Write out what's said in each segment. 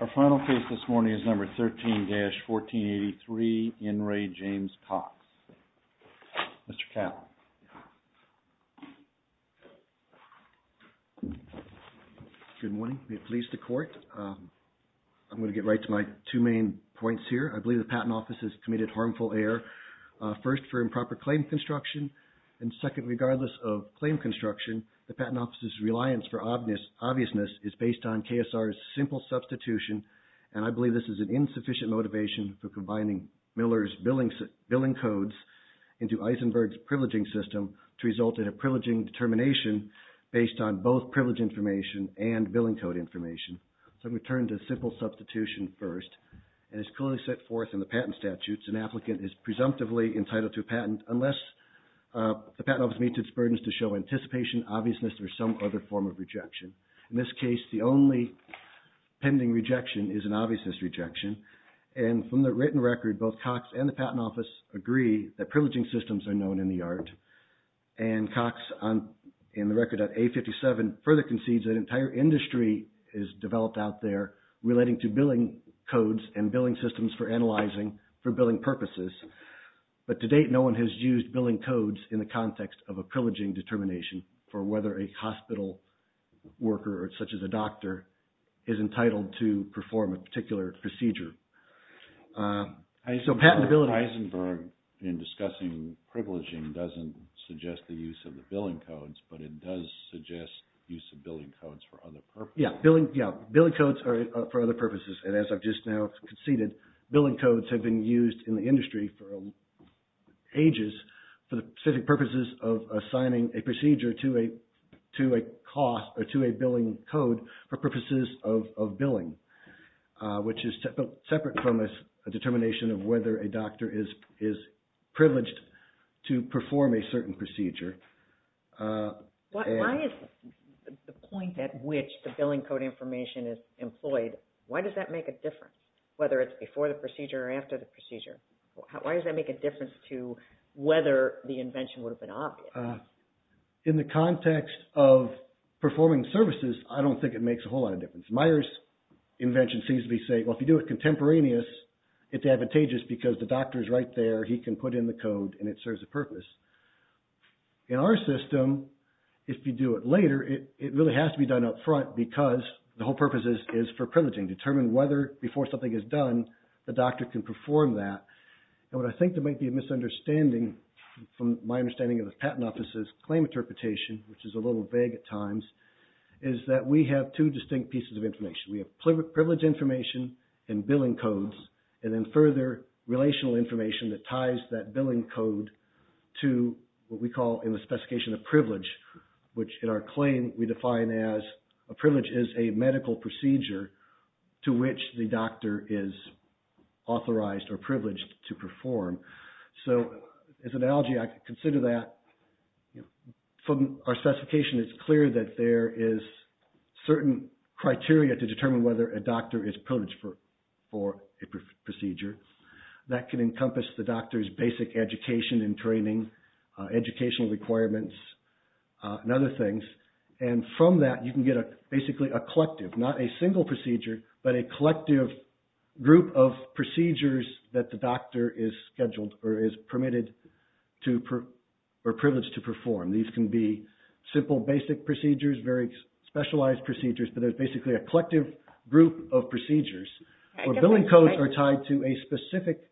Our final case this morning is number 13-1483, N. Ray James Cox. Mr. Cowell. Good morning. Be pleased to court. I'm going to get right to my two main points here. I believe the Patent Office has committed harmful error, first for improper claim construction, and second, regardless of claim construction, the Patent Office's reliance for obviousness is based on KSR's simple substitution, and I believe this is an insufficient motivation for combining Miller's billing codes into Eisenberg's privileging system to result in a privileging determination based on both privilege information and billing code information. So I'm going to turn to simple substitution first, and it's clearly set forth in the patent statute. An applicant is presumptively entitled to a patent unless the Patent Office meets its burdens to show anticipation, obviousness, or some other form of rejection. In this case, the only pending rejection is an obviousness rejection, and from the written record, both Cox and the Patent Office agree that privileging systems are known in the yard, and Cox, in the record at A57, further concedes that an entire industry is developed out there relating to billing codes and billing systems for analyzing for billing purposes, but to date, no one has used billing codes in the context of a privileging determination for whether a hospital worker, such as a doctor, is entitled to perform a particular procedure. So patentability... Eisenberg, in discussing privileging, doesn't suggest the use of the billing codes, but it does suggest the use of billing codes for other purposes. Yeah, billing codes are for other purposes, and as I've just now conceded, billing codes have been used in the industry for ages for the specific purposes of assigning a procedure to a cost or to a billing code for purposes of billing, which is separate from a determination of whether a doctor is privileged to perform a certain procedure. Why is the point at which the billing code information is employed, why does that make a difference, whether it's before the procedure or after the procedure? Why does that make a difference to whether the invention would have been obvious? In the context of performing services, I don't think it makes a whole lot of difference. Meyer's invention seems to be saying, well, if you do it contemporaneous, it's advantageous because the doctor's right there, he can put in the code, and it serves a purpose. In our system, if you do it later, it really has to be done up front because the whole purpose is for privileging, determine whether before something is done, the doctor can perform that. And what I think that might be a misunderstanding from my understanding of the patent office's claim interpretation, which is a little vague at times, is that we have two distinct pieces of information. We have privilege information and billing codes, and then further relational information that ties that billing code to what we call in the specification a privilege, which in our claim we define as a privilege is a medical procedure to which the doctor is authorized or privileged to perform. So as an analogy, I consider that from our specification, it's clear that there is certain criteria to determine whether a doctor is privileged for a procedure that can encompass the doctor's basic education and training, educational requirements, and other things. And from that, you can get basically a collective, not a single procedure, but a collective group of procedures that the doctor is scheduled or is permitted to or privileged to perform. These can be simple basic procedures, very specialized procedures, but there's basically a collective group of procedures where billing codes are tied to a specific procedure.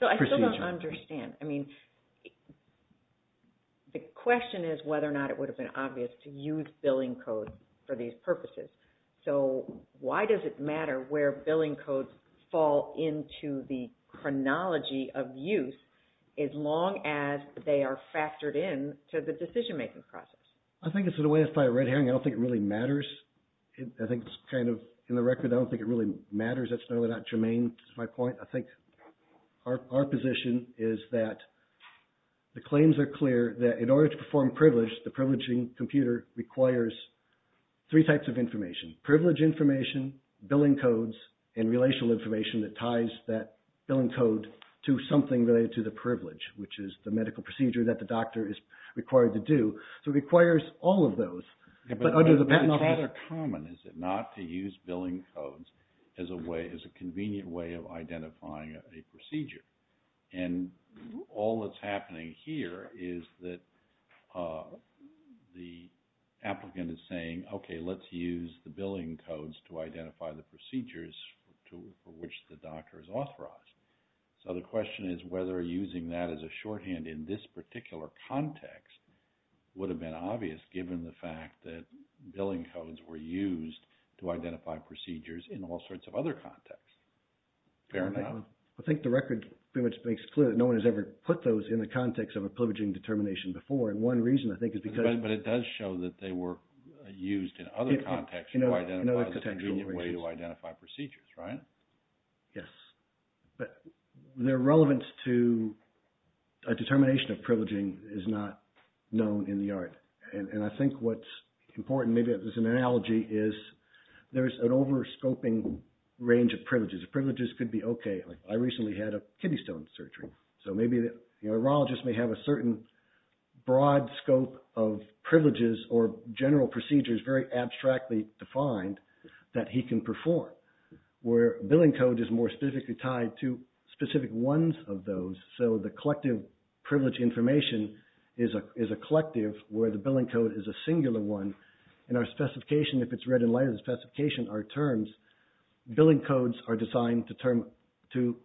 So I still don't understand. I mean, the question is whether or not it would have been obvious to use billing codes for these purposes. So why does it matter where billing codes fall into the chronology of use as long as they are factored in to the decision-making process? I think it's in a way, it's probably a red herring. I don't think it really matters. I think it's kind of, in the record, I don't think it really matters. That's not really that germane, is my point. I think our position is that the claims are clear that in order to perform privilege, the privileging computer requires three types of information. Privilege information, billing codes, and relational information that ties that billing code to something related to the privilege, which is the medical care. So it requires all of those, but under the patent law... It's rather common, is it not, to use billing codes as a way, as a convenient way of identifying a procedure. And all that's happening here is that the applicant is saying, okay, let's use the billing codes to identify the procedures for which the doctor is authorized. So the question is whether using that as a shorthand in this particular context would have been obvious given the fact that billing codes were used to identify procedures in all sorts of other contexts. Fair enough? I think the record pretty much makes it clear that no one has ever put those in the context of a privileging determination before. And one reason, I think, is because... But it does show that they were used in other contexts to identify procedures, right? Yes. But their relevance to a determination of privileging is not known in the art. And I think what's important, maybe as an analogy, is there's an overscoping range of privileges. Privileges could be, okay, I recently had a kidney stone surgery. So maybe the urologist may have a certain broad scope of privileges or general procedures, very abstractly defined, that he can perform. Where billing code is more specifically tied to specific ones of those. So the collective privilege information is a collective where the billing code is a singular one. And our specification, if it's read in light of the specification, our terms, billing codes are designed to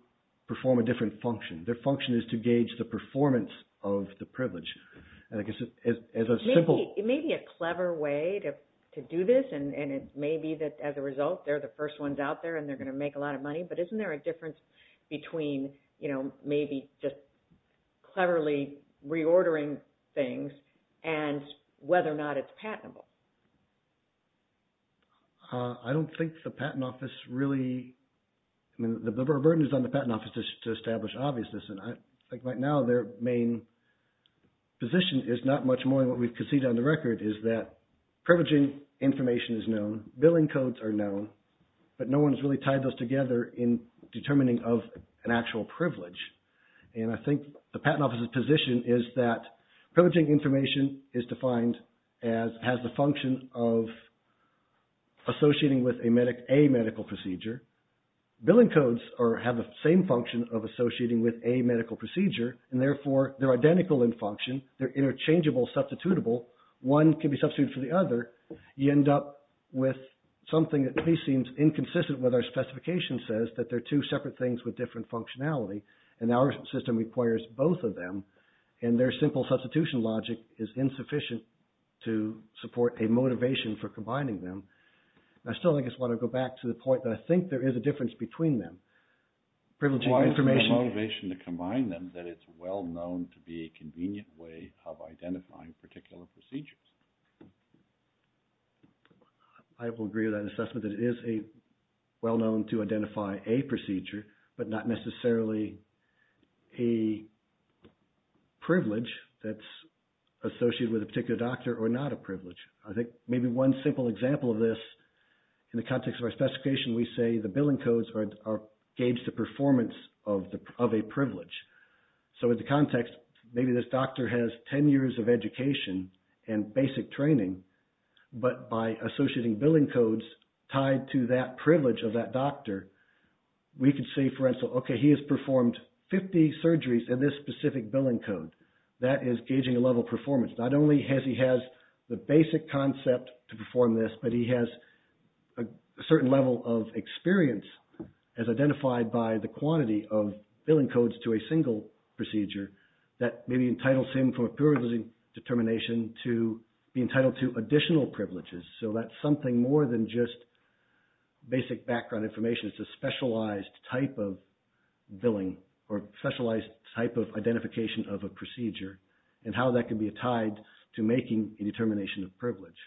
perform a different function. Their function is to gauge the performance of the privilege. It may be a clever way to do this. And it may be that, as a result, they're the first ones out there and they're going to make a lot of money. But isn't there a difference between maybe just cleverly reordering things and whether or not it's patentable? I don't think the patent office really... I mean, the burden is on the patent office to establish obviousness. And I think right now their main position is not much more than what we've conceded on the record is that privileging information is known, billing codes are known, but no one has really tied those together in determining of an actual privilege. And I think the patent office's position is that privileging information is defined as, has the function of associating with a medical procedure. Billing codes have the same function of associating with a medical procedure. And therefore, they're identical in function. They're interchangeable, substitutable. One can be substituted for the other. You end up with something that to me seems inconsistent with our specification says that they're two separate things with different functionality. And our system requires both of them. And their simple substitution logic is insufficient to support a motivation for combining them. I still, I guess, want to go back to the point that I think there is a difference between them. Privileging information... Why is there a motivation to combine them that it's well known to be a convenient way of identifying particular procedures? I will agree with that assessment that it is well known to identify a procedure, but not necessarily a privilege that's associated with a particular doctor or not a privilege. I think maybe one simple example of this in the context of our specification, we say the billing codes are gauged the performance of a privilege. So in the context, maybe this doctor has 10 years of education and basic training, but by associating billing codes tied to that privilege of that doctor, we could say, for instance, okay, he has performed 50 surgeries in this specific billing code. That is gauging a level of performance. Not only has he has the basic concept to perform this, but he has a certain level of experience as identified by the quantity of billing codes to a single procedure that maybe entitles him from a privilege determination to be entitled to additional privileges. So that's something more than just basic background information. Privilege is a specialized type of billing or specialized type of identification of a procedure and how that can be tied to making a determination of privilege.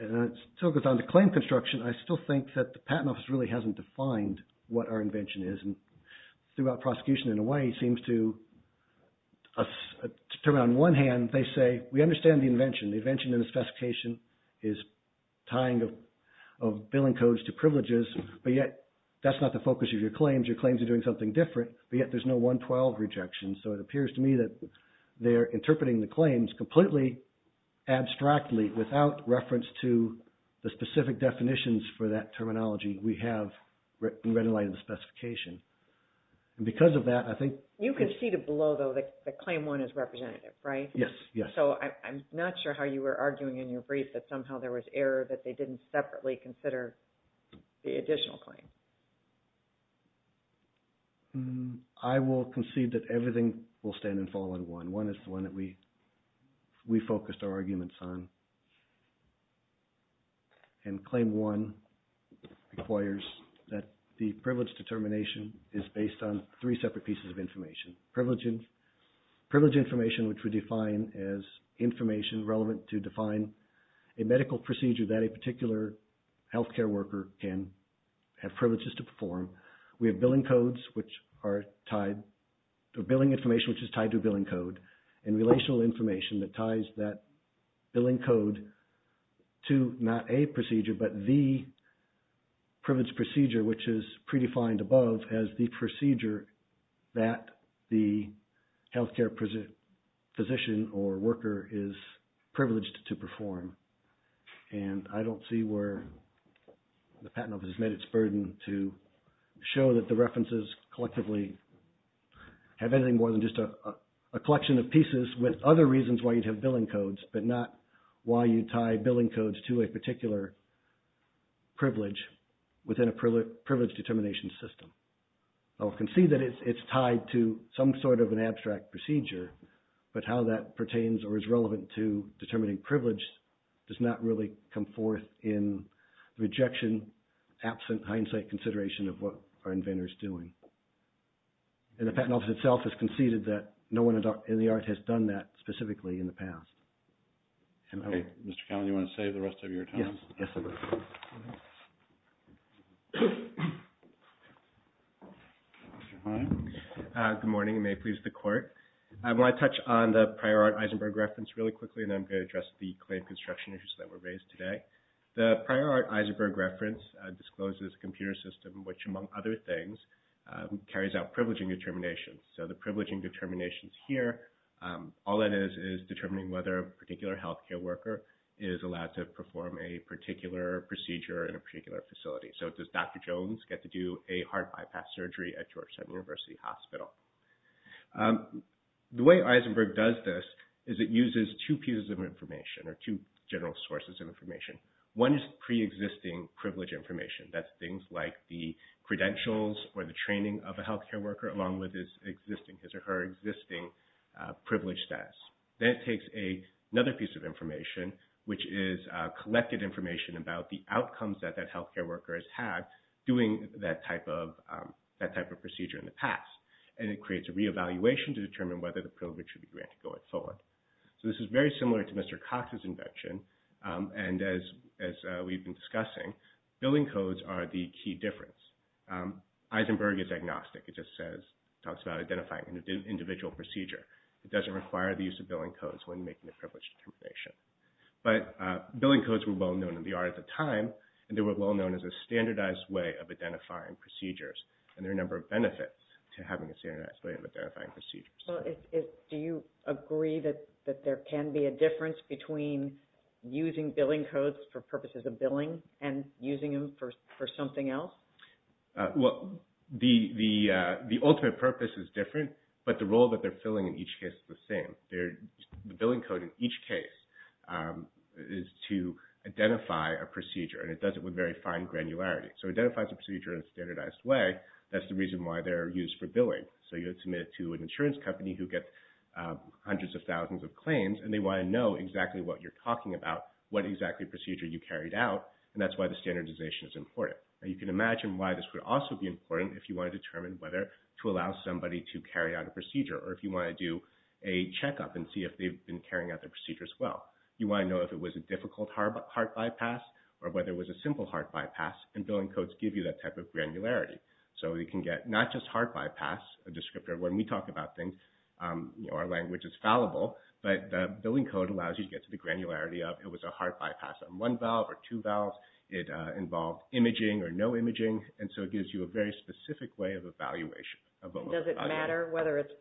And it still goes on to claim construction. I still think that the Patent Office really hasn't defined what our invention is. And throughout prosecution, in a way, it seems to us to turn on one hand, they say we understand the invention. The invention in the specification is tying of billing codes to privileges, but yet that's not the focus of your claims. Your claims are doing something different, but yet there's no 112 rejection. So it appears to me that they are interpreting the claims completely abstractly without reference to the specific definitions for that terminology we have in red and white in the specification. And because of that, I think... You conceded below, though, that claim one is representative, right? Yes, yes. So I'm not sure how you were arguing in your brief that somehow there was error that they didn't separately consider the additional claim. I will concede that everything will stand and fall in one. One is the one that we focused our arguments on. And claim one requires that the privilege determination is based on three separate pieces of information. Privilege information, which we define as information relevant to define a medical procedure that a particular health care worker can have privileges to perform. We have billing codes, which are tied to billing information, which is tied to billing code. And relational information that ties that billing code to not a procedure, but the privilege procedure, which is predefined above as the procedure that the health care physician or worker is privileged to perform. And I don't see where the Patent Office has met its burden to show that the references collectively have anything more than just a collection of pieces with other reasons why you'd have billing codes, but not why you tie billing codes to a particular privilege within a privilege determination system. I will concede that it's tied to some sort of an abstract procedure, but how that pertains or is relevant to determining privilege does not really come forth in rejection, absent hindsight consideration of what our inventor is doing. And the Patent Office itself has conceded that no one in the art has done that specifically in the past. Okay. Mr. Cowan, do you want to save the rest of your time? Yes. Good morning and may it please the Court. I want to touch on the Prior Art Eisenberg Reference really quickly and then I'm going to address the claim construction issues that were raised today. The Prior Art Eisenberg Reference discloses a computer system, which among other things, carries out privileging determinations. So the privileging determinations here, all it is is determining whether a particular health care worker is allowed to perform a particular procedure in a particular facility. So does Dr. Jones get to do a heart bypass surgery at Georgetown University Hospital? The way Eisenberg does this is it uses two pieces of information or two general sources of information. One is pre-existing privilege information. That's things like the credentials or the training of a health care worker along with his or her existing privilege status. Then it takes another piece of information, which is collected information about the outcomes that that health care worker has had doing that type of procedure in the past. And it creates a reevaluation to determine whether the privilege should be granted going forward. So this is very similar to Mr. Cox's invention. And as we've been discussing, billing codes are the key difference. Eisenberg is agnostic. It just talks about identifying an individual procedure. It doesn't require the use of billing codes when making a privilege determination. But billing codes were well-known in the art at the time, and they were well-known as a standardized way of identifying procedures. And there are a number of benefits to having a standardized way of identifying procedures. Well, do you agree that there can be a difference between using billing codes for purposes of billing and using them for something else? Well, the ultimate purpose is different, but the role that they're filling in each case is the same. The billing code in each case is to identify a procedure, and it does it with very fine granularity. So it identifies a procedure in a standardized way. That's the reason why they're used for billing. So you would submit it to an insurance company who gets hundreds of thousands of claims, and they want to know exactly what you're talking about, what exactly procedure you carried out, and that's why the standardization is important. Now, you can imagine why this would also be important if you want to determine whether to allow somebody to carry out a procedure or if you want to do a checkup and see if they've been carrying out their procedure as well. You want to know if it was a difficult heart bypass or whether it was a simple heart bypass, and billing codes give you that type of granularity. So you can get not just heart bypass, a descriptor. When we talk about things, our language is fallible, but the billing code allows you to get to the granularity of it was a heart bypass on one valve or two valves. It involved imaging or no imaging, and so it gives you a very specific way of evaluation. Does it matter whether it's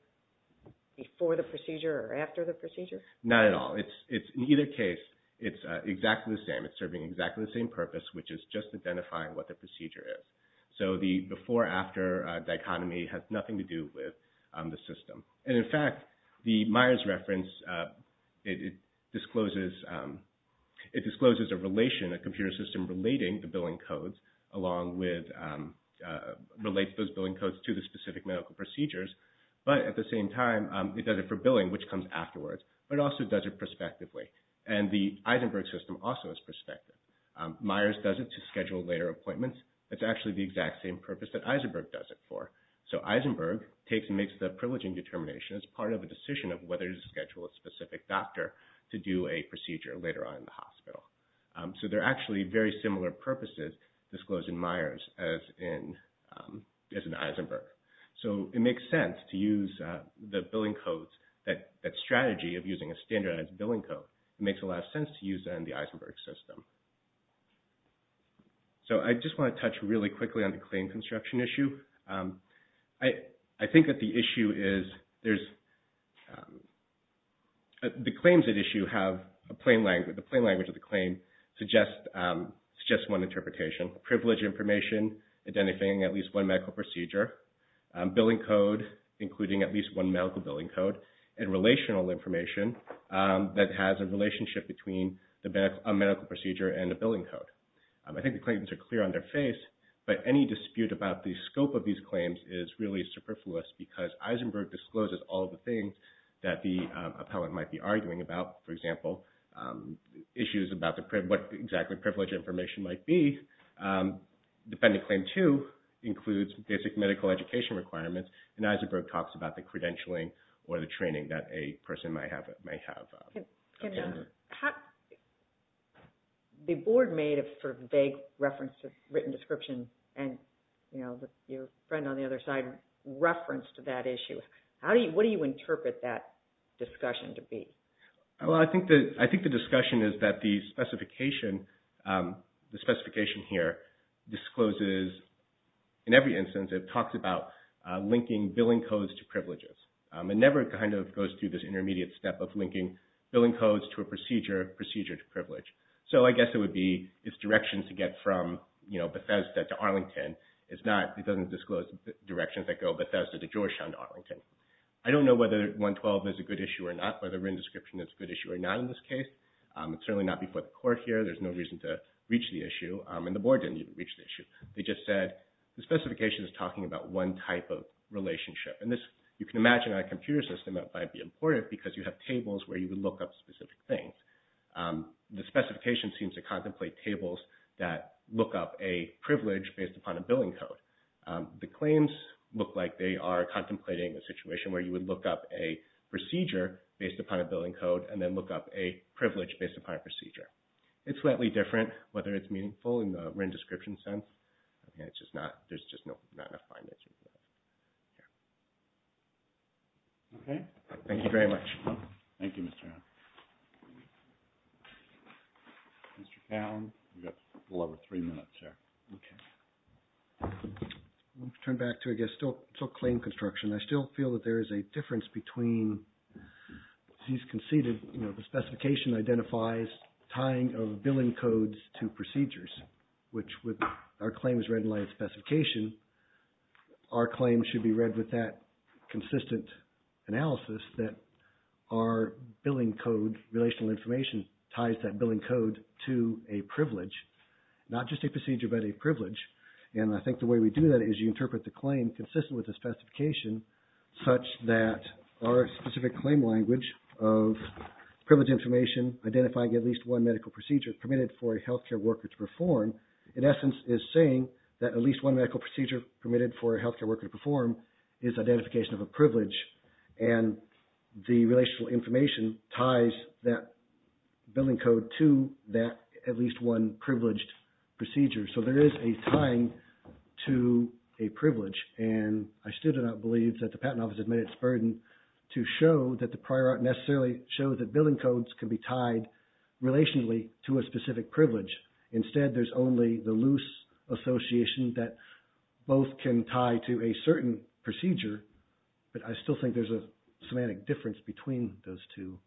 before the procedure or after the procedure? Not at all. In either case, it's exactly the same. It's serving exactly the same purpose, which is just identifying what the procedure is. So the before-after dichotomy has nothing to do with the system. And, in fact, the Myers reference, it discloses a relation, a computer system relating the billing codes, along with relates those billing codes to the specific medical procedures. But at the same time, it does it for billing, which comes afterwards, but it also does it prospectively. And the Eisenberg system also is prospective. Myers does it to schedule later appointments. It's actually the exact same purpose that Eisenberg does it for. So Eisenberg takes and makes the privileging determination as part of a decision of whether to schedule a specific doctor to do a procedure later on in the hospital. So they're actually very similar purposes disclosed in Myers as in Eisenberg. So it makes sense to use the billing codes, that strategy of using a standardized billing code. It makes a lot of sense to use that in the Eisenberg system. So I just want to touch really quickly on the claim construction issue. I think that the issue is there's – the claims at issue have a plain language. The plain language of the claim suggests one interpretation. Privilege information, identifying at least one medical procedure. Billing code, including at least one medical billing code. And relational information that has a relationship between a medical procedure and a billing code. I think the claims are clear on their face, but any dispute about the scope of these claims is really superfluous because Eisenberg discloses all the things that the appellant might be arguing about. For example, issues about what exactly privilege information might be. Defending claim two includes basic medical education requirements, and Eisenberg talks about the credentialing or the training that a person might have. The board made a sort of vague reference to written description, and your friend on the other side referenced that issue. What do you interpret that discussion to be? Well, I think the discussion is that the specification here discloses – linking billing codes to privileges. It never kind of goes through this intermediate step of linking billing codes to a procedure, procedure to privilege. So I guess it would be it's directions to get from, you know, Bethesda to Arlington. It's not – it doesn't disclose directions that go Bethesda to Georgetown to Arlington. I don't know whether 112 is a good issue or not, whether written description is a good issue or not in this case. It's certainly not before the court here. There's no reason to reach the issue, and the board didn't even reach the issue. They just said the specification is talking about one type of relationship, and this – you can imagine on a computer system that might be important because you have tables where you would look up specific things. The specification seems to contemplate tables that look up a privilege based upon a billing code. The claims look like they are contemplating a situation where you would look up a procedure based upon a billing code and then look up a privilege based upon a procedure. It's slightly different, whether it's meaningful in the written description sense. It's just not – there's just not enough findings. Okay. Thank you very much. Thank you, Mr. Allen. Mr. Fallon, you've got a little over three minutes here. Okay. I'm going to turn back to, I guess, still claim construction. I still feel that there is a difference between what he's conceded. You know, the specification identifies tying of billing codes to procedures, which would – our claim is read in light of specification. Our claim should be read with that consistent analysis that our billing code, relational information ties that billing code to a privilege, not just a procedure but a privilege. And I think the way we do that is you interpret the claim consistent with the specification such that our specific claim language of privilege information identifying at least one medical procedure permitted for a healthcare worker to perform, in essence, is saying that at least one medical procedure permitted for a healthcare worker to perform is identification of a privilege. And the relational information ties that billing code to that at least one privileged procedure. So there is a tying to a privilege. And I still do not believe that the patent office has made its burden to show that the prior art necessarily shows that billing codes can be tied relationally to a specific privilege. Instead, there's only the loose association that both can tie to a certain procedure. But I still think there's a semantic difference between those two.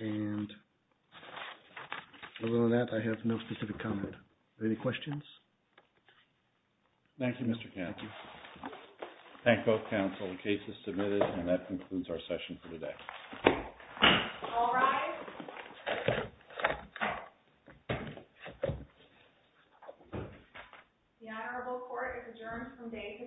And other than that, I have no specific comment. Any questions? Thank you, Mr. Kemp. Thank you. Thank both counsel. The case is submitted and that concludes our session for today. All rise. The Honorable Court is adjourned from day to day. Thank you.